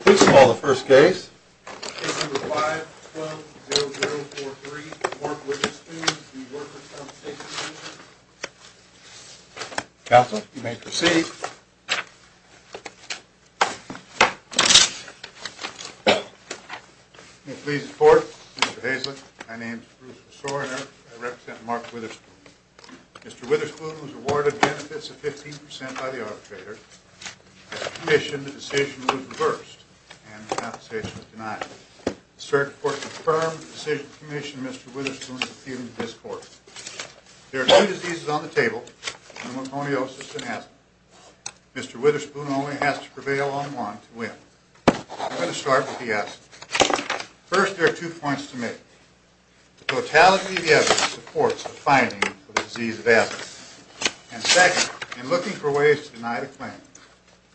Please call the first case. Case number 5-12-0043, Mark Witherspoon v. Workers' Compensation Commission. Counselor, you may proceed. May it please the Court, Mr. Haislip, my name is Bruce Sorener. I represent Mark Witherspoon. Mr. Witherspoon was awarded benefits of 15% by the arbitrator. As a commission, the decision was reversed and compensation was denied. The Circuit Court confirmed the decision to commission Mr. Witherspoon to appeal in this court. There are two diseases on the table, pneumoconiosis and acid. Mr. Witherspoon only has to prevail on one to win. I'm going to start with the acid. First, there are two points to make. The totality of the evidence supports the finding of the disease of asthma. And second, in looking for ways to deny the claim,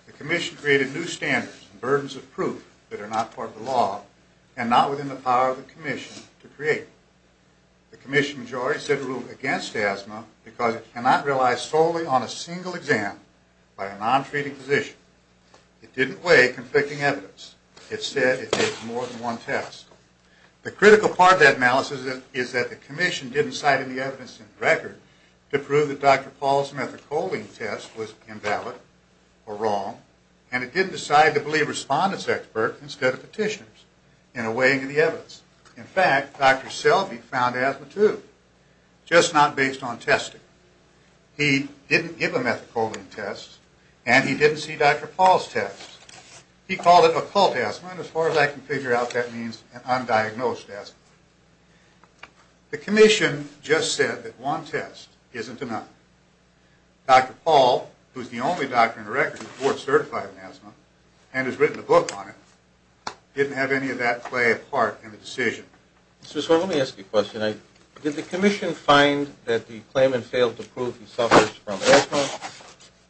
the Commission created new standards and burdens of proof that are not part of the law and not within the power of the Commission to create them. The Commission majority said it ruled against asthma because it cannot rely solely on a single exam by a non-treating physician. It didn't weigh conflicting evidence. It said it takes more than one test. The critical part of that malice is that the Commission didn't cite any evidence in the record to prove that Dr. Paul's methacholine test was invalid or wrong. And it didn't decide to believe respondent's expert instead of petitioners in a weighing of the evidence. In fact, Dr. Selby found asthma too, just not based on testing. He didn't give a methacholine test and he didn't see Dr. Paul's test. He called it occult asthma, and as far as I can figure out, that means undiagnosed asthma. The Commission just said that one test isn't enough. Dr. Paul, who is the only doctor in the record who is board certified in asthma and has written a book on it, didn't have any of that play a part in the decision. Mr. Swartz, let me ask you a question. Did the Commission find that the claimant failed to prove he suffers from asthma?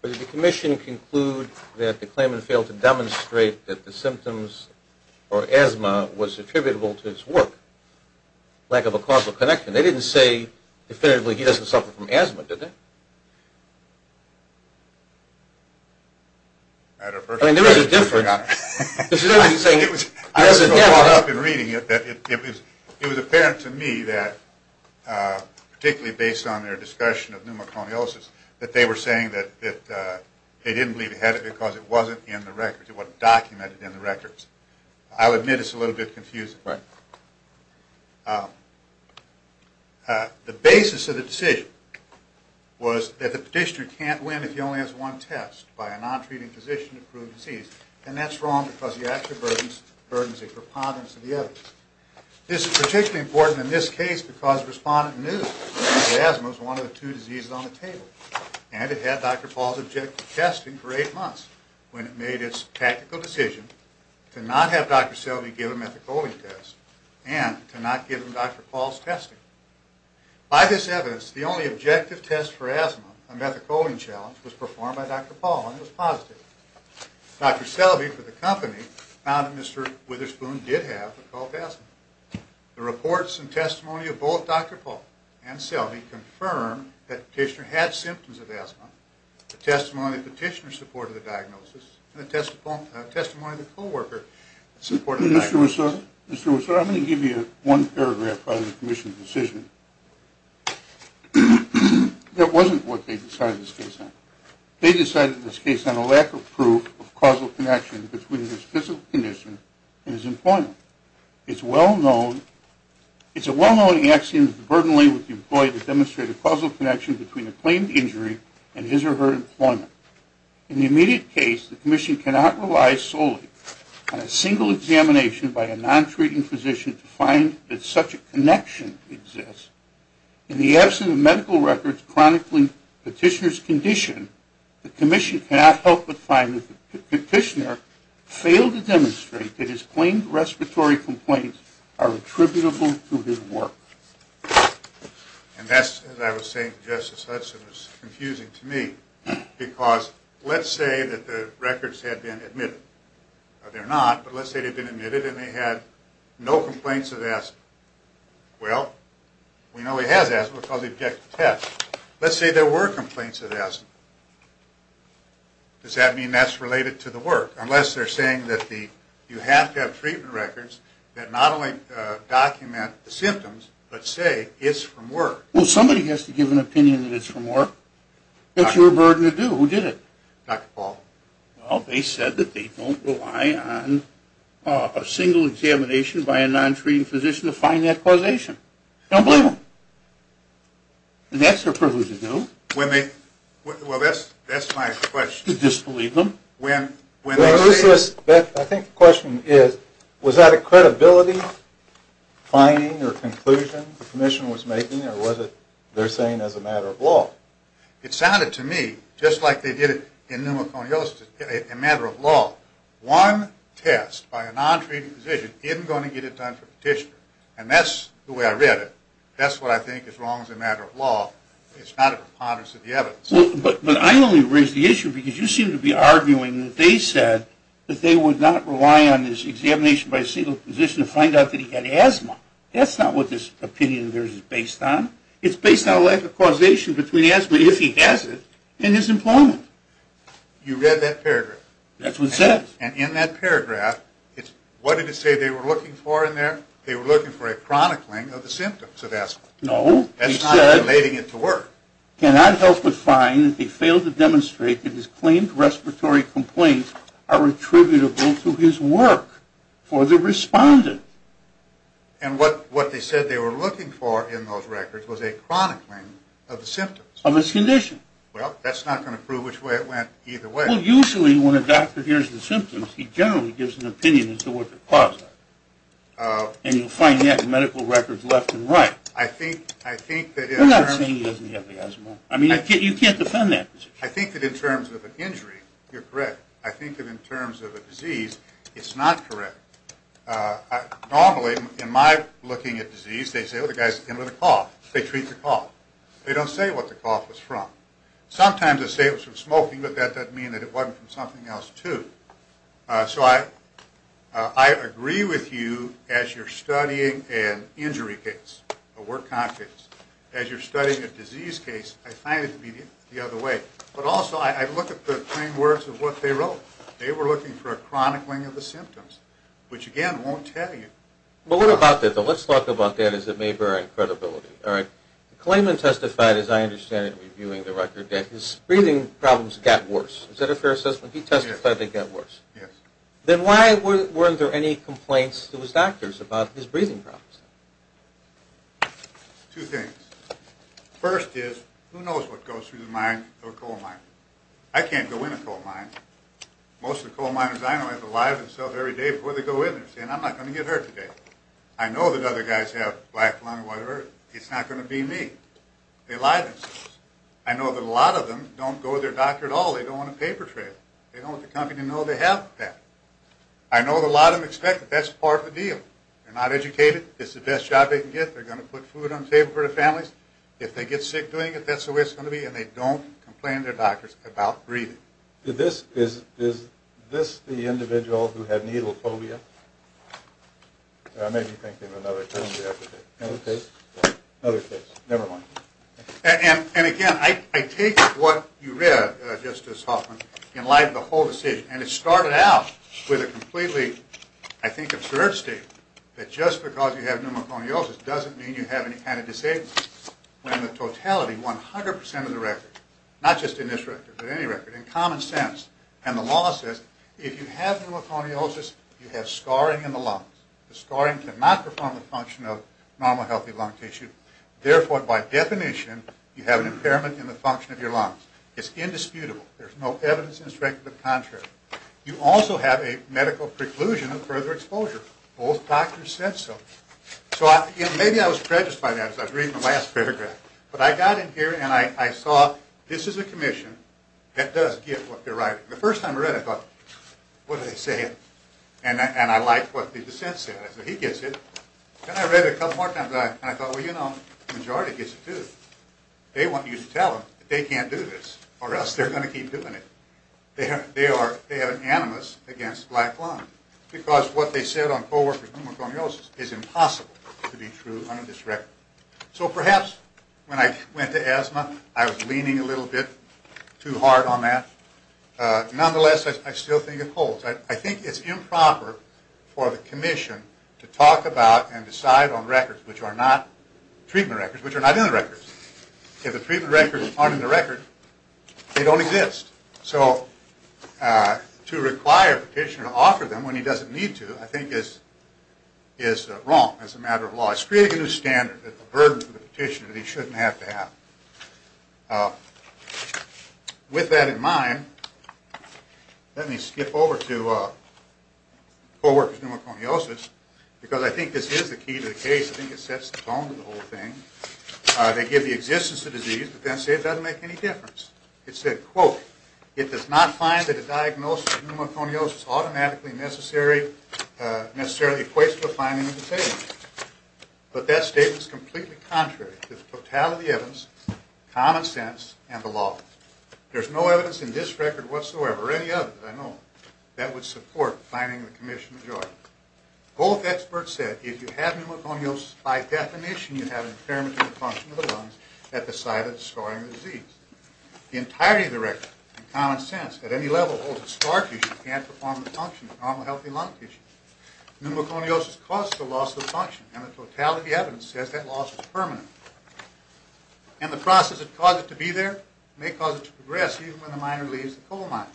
Did the Commission conclude that the claimant failed to demonstrate that the symptoms or asthma was attributable to his work? Lack of a causal connection. They didn't say definitively he doesn't suffer from asthma, did they? I mean, there is a difference. I was so caught up in reading it that it was apparent to me that, particularly based on their discussion of pneumocloniosis, that they were saying that they didn't believe he had it because it wasn't in the records, it wasn't documented in the records. I'll admit it's a little bit confusing. The basis of the decision was that the petitioner can't win if he only has one test by a non-treating physician to prove disease, and that's wrong because he actually burdens a preponderance of the evidence. This is particularly important in this case because the respondent knew that asthma was one of the two diseases on the table, and it had Dr. Paul's objective testing for eight months when it made its tactical decision to not have Dr. Selby give a methacholine test and to not give him Dr. Paul's testing. By this evidence, the only objective test for asthma, a methacholine challenge, was performed by Dr. Paul, and it was positive. Dr. Selby, for the company, found that Mr. Witherspoon did have a cough asthma. The reports and testimony of both Dr. Paul and Selby confirmed that the petitioner had symptoms of asthma, the testimony of the petitioner supported the diagnosis, and the testimony of the co-worker supported the diagnosis. Mr. Witherspoon, I'm going to give you one paragraph on the commission's decision. That wasn't what they decided this case on. They decided this case on a lack of proof of causal connection between his physical condition and his employment. It's a well-known axiom that the burden lay with the employee to demonstrate a causal connection between a claimed injury and his or her employment. In the immediate case, the commission cannot rely solely on a single examination by a non-treating physician to find that such a connection exists. In the absence of medical records chronicling the petitioner's condition, the commission cannot help but find that the petitioner failed to demonstrate that his claimed respiratory complaints are attributable to his work. And that's, as I was saying to Justice Hudson, was confusing to me. Because let's say that the records had been admitted. They're not, but let's say they've been admitted and they had no complaints of asthma. Well, we know he has asthma because he objected to tests. Let's say there were complaints of asthma. Does that mean that's related to the work? Unless they're saying that you have to have treatment records that not only document the symptoms, but say it's from work. Well, somebody has to give an opinion that it's from work. That's your burden to do. Who did it? Dr. Paul. Well, they said that they don't rely on a single examination by a non-treating physician to find that causation. Don't blame them. And that's their privilege to do. Well, that's my question. To disbelieve them? I think the question is, was that a credibility finding or conclusion the commission was making or was it they're saying as a matter of law? It sounded to me just like they did it in pneumoconiosis, a matter of law. One test by a non-treating physician isn't going to get it done for a petitioner. And that's the way I read it. That's what I think is wrong as a matter of law. It's not a preponderance of the evidence. But I only raise the issue because you seem to be arguing that they said that they would not rely on this examination by a single physician to find out that he had asthma. That's not what this opinion of theirs is based on. It's based on a lack of causation between asthma, if he has it, and his employment. You read that paragraph? That's what it says. And in that paragraph, what did it say they were looking for in there? They were looking for a chronicling of the symptoms of asthma. No. That's not relating it to work. Cannot help but find that they failed to demonstrate that his claimed respiratory complaints are attributable to his work for the respondent. And what they said they were looking for in those records was a chronicling of the symptoms. Of his condition. Well, that's not going to prove which way it went either way. Well, usually when a doctor hears the symptoms, he generally gives an opinion as to what the cause is. And you'll find that in medical records left and right. I'm not saying he doesn't have asthma. I mean, you can't defend that position. I think that in terms of an injury, you're correct. I think that in terms of a disease, it's not correct. Normally, in my looking at disease, they say, well, the guy's in with a cough. They treat the cough. They don't say what the cough was from. Sometimes they say it was from smoking, but that doesn't mean that it wasn't from something else, too. So I agree with you as you're studying an injury case, a work conflict. As you're studying a disease case, I find it to be the other way. But also, I look at the claim works of what they wrote. They were looking for a chronicling of the symptoms, which, again, won't tell you. Well, what about that? Let's talk about that as it may vary in credibility. Klayman testified, as I understand it, reviewing the record that his breathing problems got worse. Is that a fair assessment? He testified they got worse. Yes. Then why weren't there any complaints to his doctors about his breathing problems? Two things. First is, who knows what goes through the mind of a coal miner? I can't go in a coal mine. Most of the coal miners I know have to lie to themselves every day before they go in there, saying, I'm not going to get hurt today. I know that other guys have black lung or whatever. It's not going to be me. They lie to themselves. I know that a lot of them don't go to their doctor at all. They don't want a paper trail. They don't want the company to know they have that. I know that a lot of them expect it. That's part of the deal. They're not educated. It's the best job they can get. They're going to put food on the table for their families. If they get sick doing it, that's the way it's going to be, and they don't complain to their doctors about breathing. Is this the individual who had needle phobia? I may be thinking of another term you have to take. Another case? Another case. Never mind. And, again, I take what you read, Justice Hoffman, in light of the whole decision, and it started out with a completely, I think, absurd statement that just because you have pneumoconiosis doesn't mean you have any kind of disability. When the totality, 100% of the record, not just in this record but any record, in common sense and the law says, if you have pneumoconiosis, you have scarring in the lungs. The scarring cannot perform the function of normal, healthy lung tissue. Therefore, by definition, you have an impairment in the function of your lungs. It's indisputable. There's no evidence to the contrary. You also have a medical preclusion of further exposure. Both doctors said so. Maybe I was prejudiced by that as I was reading the last paragraph, but I got in here and I saw this is a commission that does get what they're writing. The first time I read it, I thought, what are they saying? And I liked what the dissent said. I said, he gets it. Then I read it a couple more times, and I thought, well, you know, the majority gets it, too. They want you to tell them that they can't do this or else they're going to keep doing it. They have an animus against black lungs because what they said on coworkers' pneumoconiosis is impossible to be true under this record. So perhaps when I went to asthma, I was leaning a little bit too hard on that. Nonetheless, I still think it holds. I think it's improper for the commission to talk about and decide on records which are not treatment records, which are not in the records. If the treatment records aren't in the record, they don't exist. So to require a petitioner to offer them when he doesn't need to I think is wrong as a matter of law. It's creating a new standard, a burden for the petitioner that he shouldn't have to have. Now, with that in mind, let me skip over to coworkers' pneumoconiosis because I think this is the key to the case. I think it sets the tone of the whole thing. They give the existence of disease, but then say it doesn't make any difference. It said, quote, it does not find that a diagnosis of pneumoconiosis automatically necessarily equates to a fine immunization. But that statement is completely contrary to the totality of the evidence, common sense, and the law. There's no evidence in this record whatsoever, or any other that I know of, that would support finding the commission of joy. Both experts said if you have pneumoconiosis, by definition you have an impairment in the function of the lungs at the site of the scarring of the disease. The entirety of the record, in common sense, at any level holds that scar tissue can't perform the function of normal healthy lung tissue. Pneumoconiosis causes a loss of function, and the totality of the evidence says that loss is permanent. And the process that caused it to be there may cause it to progress, even when the miner leaves the coal mine.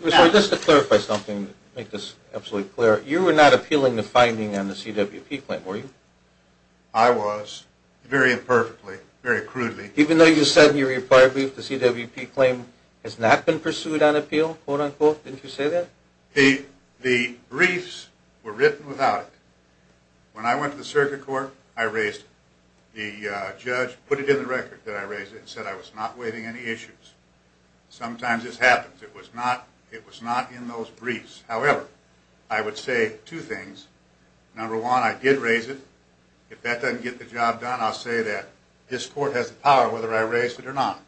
Mr. Whistler, just to clarify something, make this absolutely clear, you were not appealing the finding on the CWP claim, were you? I was, very imperfectly, very crudely. Even though you said in your prior brief the CWP claim has not been pursued on appeal, quote, unquote, didn't you say that? The briefs were written without it. When I went to the circuit court, I raised it. The judge put it in the record that I raised it and said I was not waiving any issues. Sometimes this happens. It was not in those briefs. However, I would say two things. Number one, I did raise it. If that doesn't get the job done, I'll say that this court has the power, whether I raised it or not,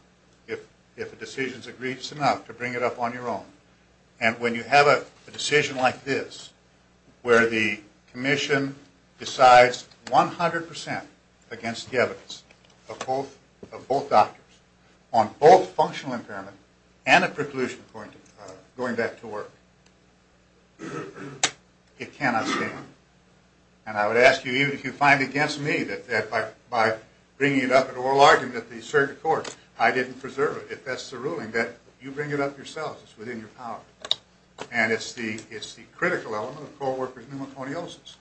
if a decision's agreed, it's enough to bring it up on your own. And when you have a decision like this, where the commission decides 100% against the evidence of both doctors on both functional impairment and a preclusion going back to work, it cannot stand. And I would ask you, even if you find it against me, that by bringing it up at oral argument at the circuit court, I didn't preserve it, if that's the ruling, that you bring it up yourselves. It's within your power. And it's the critical element of co-worker's pneumoconiosis.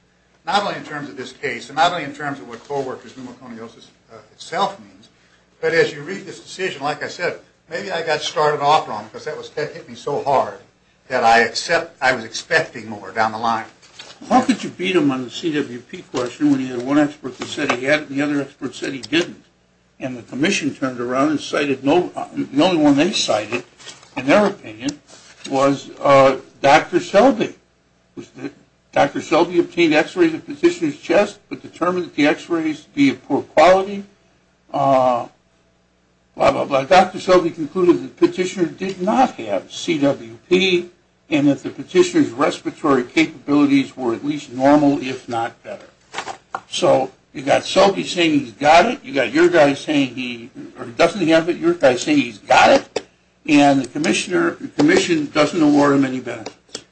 Not only in terms of this case, and not only in terms of what co-worker's pneumoconiosis itself means, but as you read this decision, like I said, maybe I got started off wrong, because that hit me so hard that I was expecting more down the line. How could you beat him on the CWP question when he had one expert that said he had it and the other expert said he didn't? And the commission turned around and the only one they cited, in their opinion, was Dr. Selby. Dr. Selby obtained x-rays of the petitioner's chest, but determined that the x-rays to be of poor quality. Dr. Selby concluded that the petitioner did not have CWP, and that the petitioner's respiratory capabilities were at least normal, if not better. So you've got Selby saying he's got it, you've got your guy saying he doesn't have it, you've got your guy saying he's got it, and the commission doesn't award him any benefits.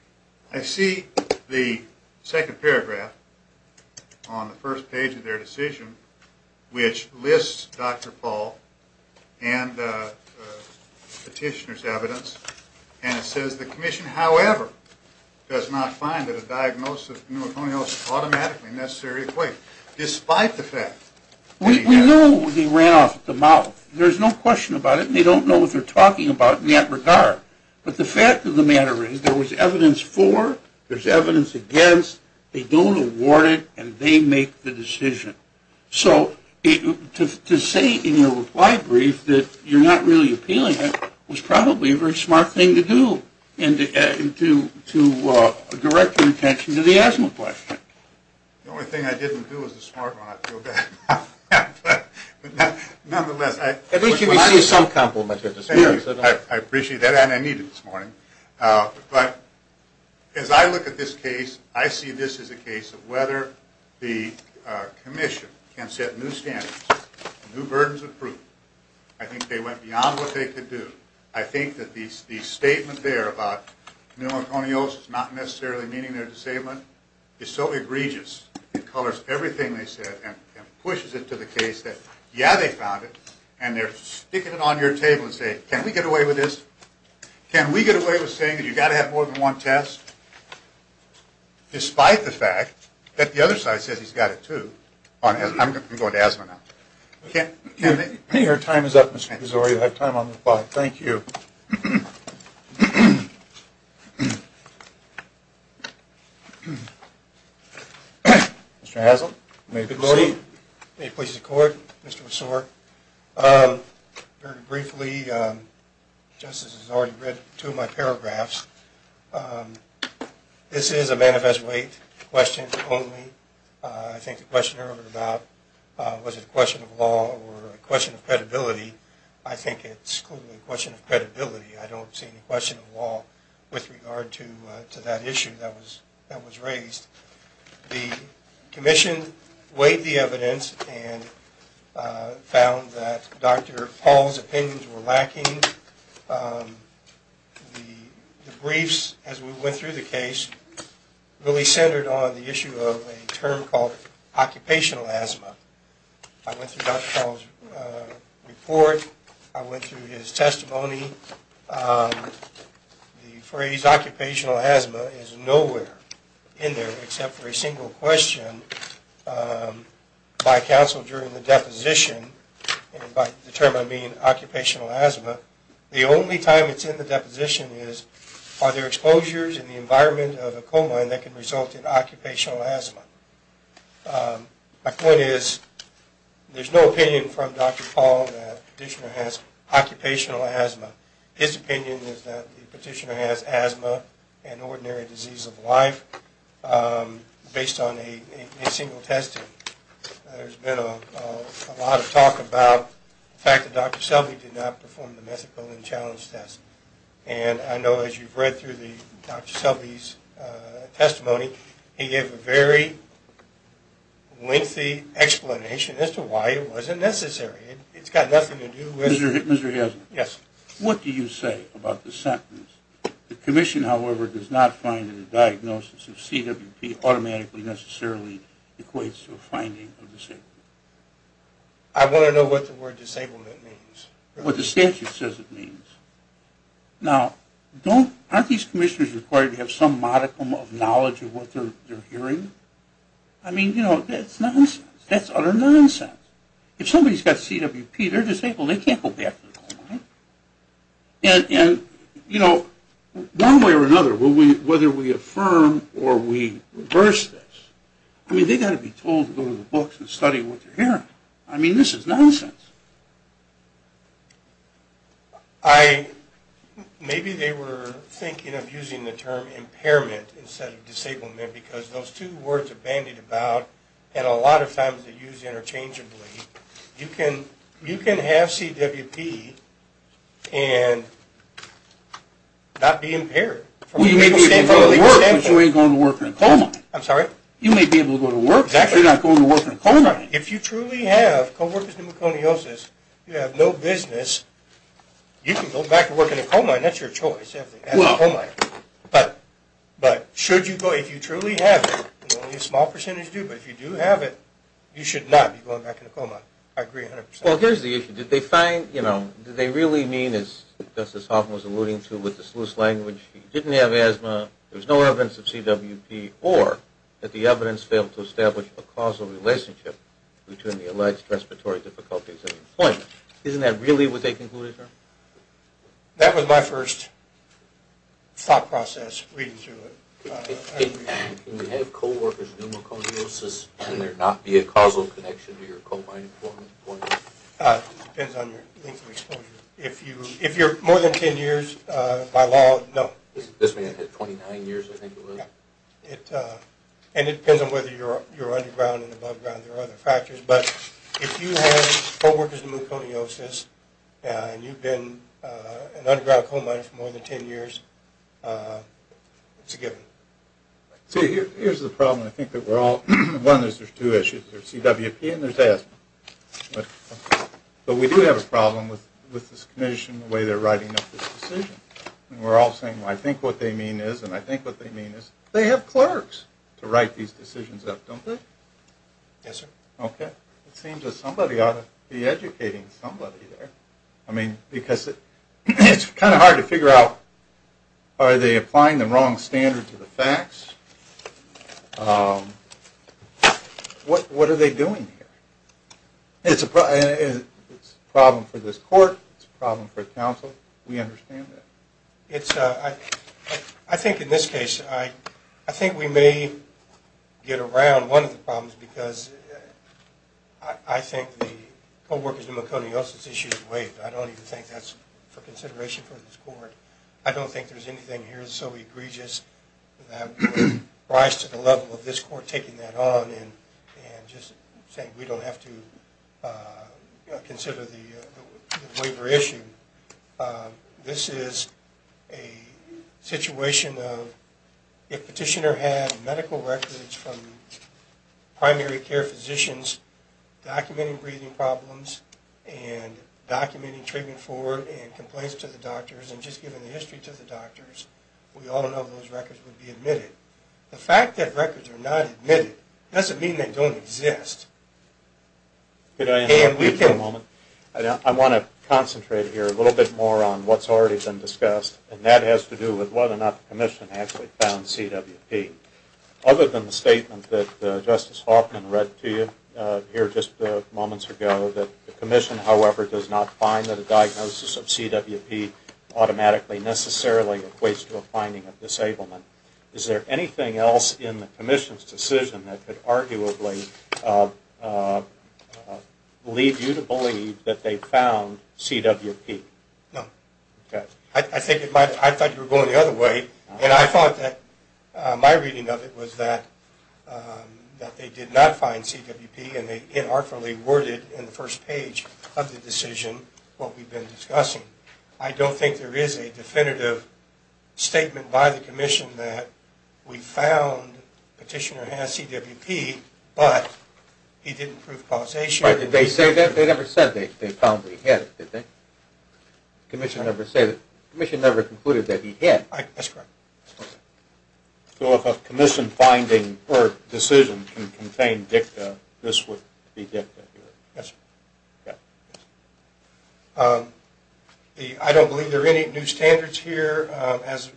I see the second paragraph on the first page of their decision, which lists Dr. Paul and the petitioner's evidence, and it says, the commission, however, does not find that a diagnosis of pneumoconiosis is automatically a necessary equation, despite the fact that he had it. We knew he ran off at the mouth. There's no question about it, and they don't know what they're talking about in that regard. But the fact of the matter is, there was evidence for, there's evidence against, they don't award it, and they make the decision. So to say in your reply brief that you're not really appealing it was probably a very smart thing to do to direct your attention to the asthma question. The only thing I didn't do was the smart one, I feel bad about that. Nonetheless... At least you received some compliment. I appreciate that, and I need it this morning. But as I look at this case, I see this as a case of whether the commission can set new standards, new burdens of proof. I think they went beyond what they could do. I think that the statement there about pneumoconiosis not necessarily meaning they're disabled is so egregious. It colors everything they said and pushes it to the case that, yeah, they found it, and they're sticking it on your table and saying, can we get away with this? Can we get away with saying that you've got to have more than one test? Despite the fact that the other side says he's got it too. I'm going to asthma now. Your time is up, Mr. Pizzori. You have time on the clock. Thank you. Mr. Haslund, may I proceed? Good morning. May it please the Court, Mr. Pizzori. Very briefly, Justice has already read two of my paragraphs. This is a manifest weight, questions only. I think the question earlier about was it a question of law or a question of credibility, I think it's clearly a question of credibility. I don't see any question of law with regard to that issue that was raised. The Commission weighed the evidence and found that Dr. Paul's opinions were lacking. The briefs, as we went through the case, really centered on the issue of a term called occupational asthma. I went through Dr. Paul's report. I went through his testimony. The phrase occupational asthma is nowhere in there except for a single question by counsel during the deposition. By the term I mean occupational asthma. The only time it's in the deposition is are there exposures in the environment of a colon that can result in occupational asthma? My point is there's no opinion from Dr. Paul that the petitioner has occupational asthma. His opinion is that the petitioner has asthma and ordinary disease of life based on a single testing. There's been a lot of talk about the fact that Dr. Selby did not perform the methadone challenge test. I know as you've read through Dr. Selby's testimony, he gave a very lengthy explanation as to why it wasn't necessary. It's got nothing to do with... Mr. Hazen. Yes. What do you say about the sentence, the commission, however, does not find in the diagnosis of CWP automatically necessarily equates to a finding of disability? I want to know what the word disablement means. What the statute says it means. Now, aren't these commissioners required to have some modicum of knowledge of what they're hearing? I mean, you know, that's nonsense. That's utter nonsense. If somebody's got CWP, they're disabled. They can't go back to the old way. And, you know, one way or another, whether we affirm or we reverse this, I mean, they've got to be told to go to the books and study what they're hearing. I mean, this is nonsense. I... Maybe they were thinking of using the term impairment instead of disablement because those two words are bandied about and a lot of times they're used interchangeably. You can have CWP and not be impaired. Well, you may be able to go to work, but you ain't going to work in a coal mine. I'm sorry? You may be able to go to work, but you're not going to work in a coal mine. Exactly. If you truly have co-workers' pneumoconiosis, you have no business, you can go back to working in a coal mine. That's your choice. Well... But should you go... If you truly have it, and only a small percentage do, but if you do have it, you should not be going back in a coal mine. I agree 100%. Well, here's the issue. Did they find, you know... Did they really mean, as Justice Hoffman was alluding to with the sluice language, he didn't have asthma, there was no evidence of CWP, or that the evidence failed to establish a causal relationship between the alleged respiratory difficulties and employment? Isn't that really what they concluded, sir? That was my first thought process reading through it. Can you have co-workers' pneumoconiosis and there not be a causal connection to your coal mine employment? It depends on your length of exposure. If you're more than 10 years, by law, no. This man had 29 years, I think it was. Yeah. And it depends on whether you're underground and above ground, there are other factors, but if you have co-workers' pneumoconiosis and you've been an underground coal miner for more than 10 years, it's a given. See, here's the problem, I think that we're all, one, there's two issues, there's CWP and there's asthma. But we do have a problem with this commission, the way they're writing up this decision. And we're all saying, I think what they mean is, and I think what they mean is, they have clerks to write these decisions up, don't they? Yes, sir. Okay. It seems that somebody ought to be educating somebody there. I mean, because it's kind of hard to figure out, are they applying the wrong standard to the facts? What are they doing here? It's a problem for this court, it's a problem for the council, we understand that. I think in this case, I think we may get around one of the problems because I think the co-workers' pneumoconiosis issue is waived. I don't even think that's for consideration for this court. I don't think there's anything here that's so egregious that would rise to the level of this court taking that on and just saying we don't have to consider the waiver issue. This is a situation of if petitioner had medical records from primary care physicians documenting breathing problems and documenting treatment for and complaints to the doctors and just giving the history to the doctors, we all know those records would be admitted. The fact that records are not admitted doesn't mean they don't exist. Can I interrupt you for a moment? I want to concentrate here a little bit more on what's already been discussed and that has to do with whether or not the commission actually found CWP. Other than the statement that Justice Hoffman read to you here just moments ago that the commission, however, does not find that a diagnosis of CWP automatically necessarily equates to a finding of disablement. Is there anything else in the commission's decision that could arguably lead you to believe that they found CWP? No. I thought you were going the other way. I thought that my reading of it was that they did not find CWP and they inartfully worded in the first page of the decision what we've been discussing. I don't think there is a definitive statement by the commission that we found petitioner has CWP but he didn't prove causation. But did they say that? They never said they found he had it, did they? The commission never said it. The commission never concluded that he had it. That's correct. So if a commission finding or decision can contain dicta, this would be dicta. Yes, sir. I don't believe there are any new standards here. As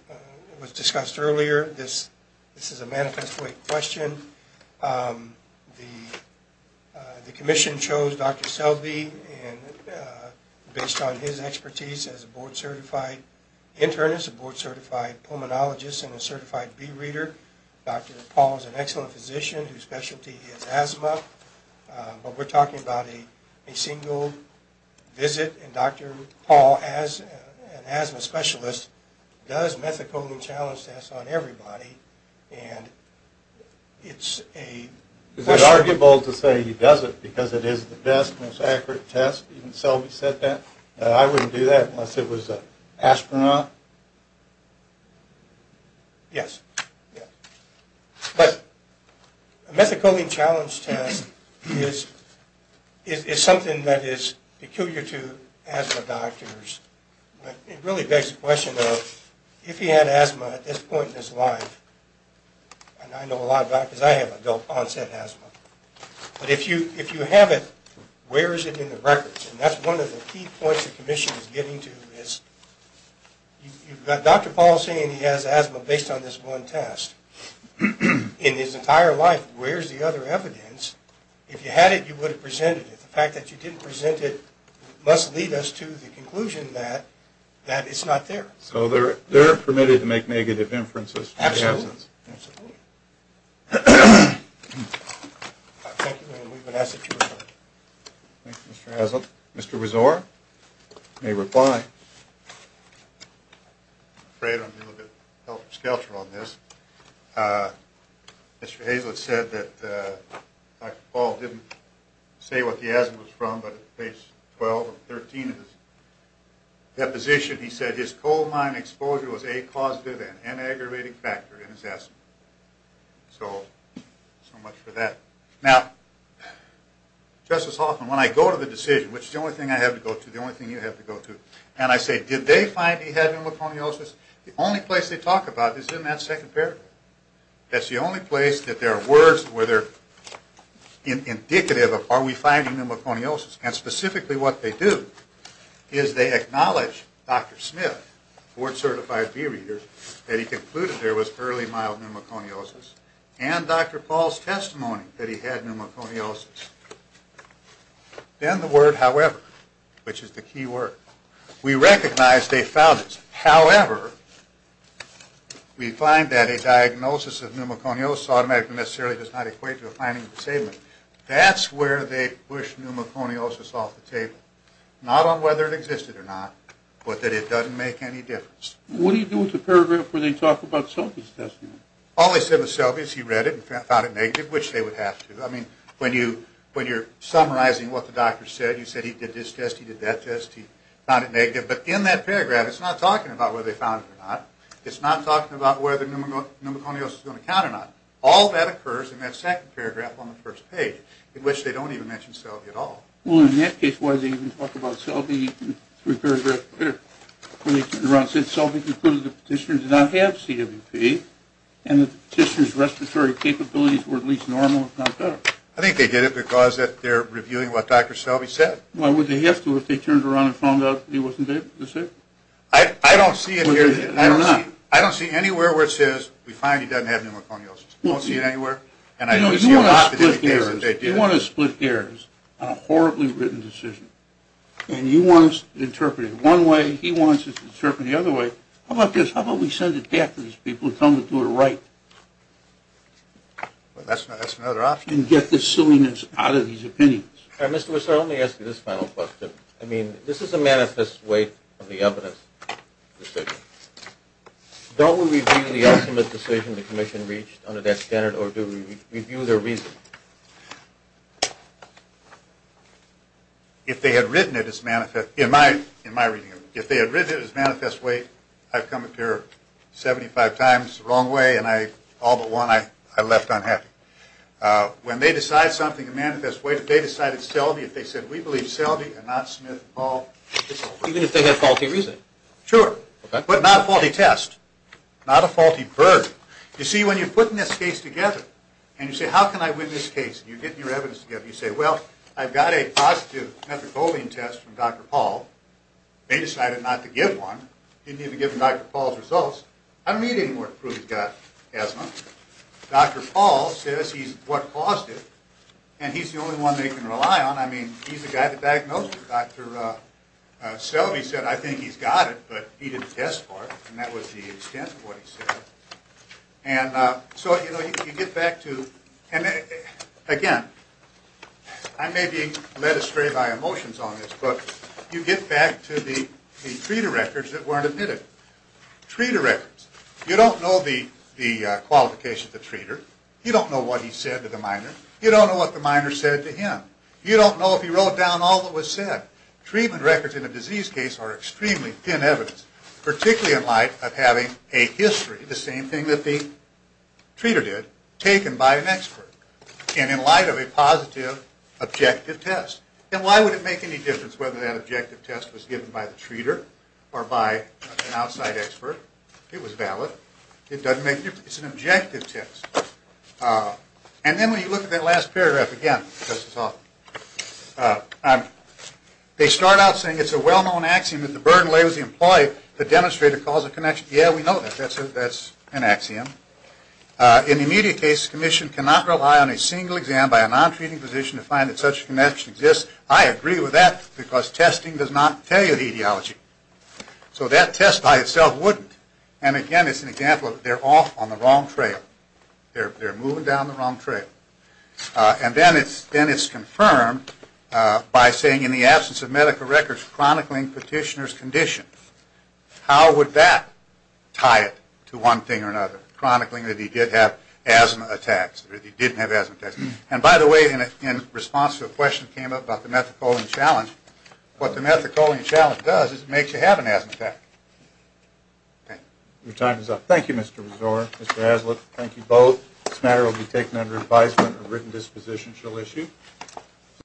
was discussed earlier, this is a manifesto question. The commission chose Dr. Selby based on his expertise as a board certified internist, a board certified pulmonologist, and a certified bee reader. Dr. Paul is an excellent physician whose specialty is asthma. But we're talking about a single visit and Dr. Paul, as an asthma specialist, does methacoline challenge tests on everybody. And it's a question... Is it arguable to say he doesn't because it is the best, most accurate test? Even Selby said that. I wouldn't do that unless it was an astronaut. Yes. But a methacoline challenge test is something that is peculiar to asthma doctors. It really begs the question of if he had asthma at this point in his life, and I know a lot about it because I have adult onset asthma, but if you have it, where is it in the records? And that's one of the key points the commission is getting to is you've got Dr. Paul saying he has asthma based on this one test. In his entire life, where's the other evidence? If you had it, you would have presented it. The fact that you didn't present it must lead us to the conclusion that it's not there. So they're permitted to make negative inferences. Absolutely. Thank you, and we would ask that you reply. Thank you, Mr. Hazlitt. Mr. Rezor may reply. I'm afraid I'm a little bit helter-skelter on this. Mr. Hazlitt said that Dr. Paul didn't say what the asthma was from, but at page 12 or 13 of his deposition, he said his coal mine exposure was a causative and aggravating factor in his asthma. So, so much for that. Now, Justice Hoffman, when I go to the decision, which is the only thing I have to go to, and I say, did they find he had pneumoconiosis? The only place they talk about it is in that second paragraph. That's the only place that there are words where they're indicative of, are we finding pneumoconiosis? And specifically what they do is they acknowledge Dr. Smith, board-certified bee reader, that he concluded there was early mild pneumoconiosis, and Dr. Paul's testimony that he had pneumoconiosis. Then the word however, which is the key word. We recognize they found it. However, we find that a diagnosis of pneumoconiosis automatically necessarily does not equate to a finding of disability. That's where they push pneumoconiosis off the table. Not on whether it existed or not, but that it doesn't make any difference. What do you do with the paragraph where they talk about Selby's testimony? All they said was Selby's, he read it and found it negative, which they would have to. When you're summarizing what the doctor said, you said he did this test, he did that test, he found it negative. But in that paragraph, it's not talking about whether they found it or not. It's not talking about whether pneumoconiosis is going to count or not. All that occurs in that second paragraph on the first page, in which they don't even mention Selby at all. Well, in that case, why did they even talk about Selby? Three paragraphs later, when they turned around and said, Selby concluded the petitioner did not have CWP, and the petitioner's respiratory capabilities were at least normal, if not better. I think they did it because they're reviewing what Dr. Selby said. Why would they have to if they turned around and found out he wasn't able to see? I don't see it here. I don't see it. I don't see anywhere where it says, we find he doesn't have pneumoconiosis. I don't see it anywhere. You know, you want to split hairs. You want to split hairs on a horribly written decision. And you want to interpret it one way, he wants to interpret it the other way. How about this? Well, that's another option. And get the silliness out of these opinions. All right, Mr. Wessler, let me ask you this final question. I mean, this is a manifest way of the evidence. Don't we review the ultimate decision the commission reached under that standard, or do we review their reasoning? If they had written it as manifest, in my reading, if they had written it as manifest way, I've come up here 75 times the wrong way, and all but one I left unhappy. When they decide something in manifest way, if they decided seldy, if they said, we believe seldy and not Smith and Paul. Even if they had faulty reasoning? Sure. But not a faulty test. Not a faulty burden. You see, when you're putting this case together, and you say, how can I win this case? And you're getting your evidence together. You say, well, I've got a positive methicolene test from Dr. Paul. They decided not to give one. They didn't even give them Dr. Paul's results. I don't need anymore to prove he's got asthma. Dr. Paul says he's what caused it, and he's the only one they can rely on. I mean, he's the guy that diagnosed it. Dr. Selby said, I think he's got it, but he didn't test for it, and that was the extent of what he said. And so, you know, you get back to, and again, I may be led astray by emotions on this, but you get back to the treater records that weren't admitted. Treater records. You don't know the qualifications of the treater. You don't know what he said to the minor. You don't know what the minor said to him. You don't know if he wrote down all that was said. Treatment records in a disease case are extremely thin evidence, particularly in light of having a history, the same thing that the treater did, taken by an expert, and in light of a positive, objective test. And why would it make any difference whether that objective test was given by the treater or by an outside expert? It was valid. It doesn't make any difference. It's an objective test. And then when you look at that last paragraph again, this is awful, they start out saying it's a well-known axiom, if the burden lays with the employee, the demonstrator calls a connection. Yeah, we know that. That's an axiom. In the immediate case, the commission cannot rely on a single exam by a non-treating physician to find that such a connection exists. I agree with that, because testing does not tell you the etiology. So that test by itself wouldn't. And again, it's an example of they're off on the wrong trail. They're moving down the wrong trail. And then it's confirmed by saying, in the absence of medical records chronicling petitioner's condition. How would that tie it to one thing or another, chronicling that he did have asthma attacks, or that he didn't have asthma attacks? And by the way, in response to a question that came up about the methacholine challenge, what the methacholine challenge does is it makes you have an asthma attack. Okay. Your time is up. Thank you, Mr. Resor. Mr. Haslip, thank you both. This matter will be taken under advisement, a written disposition shall issue.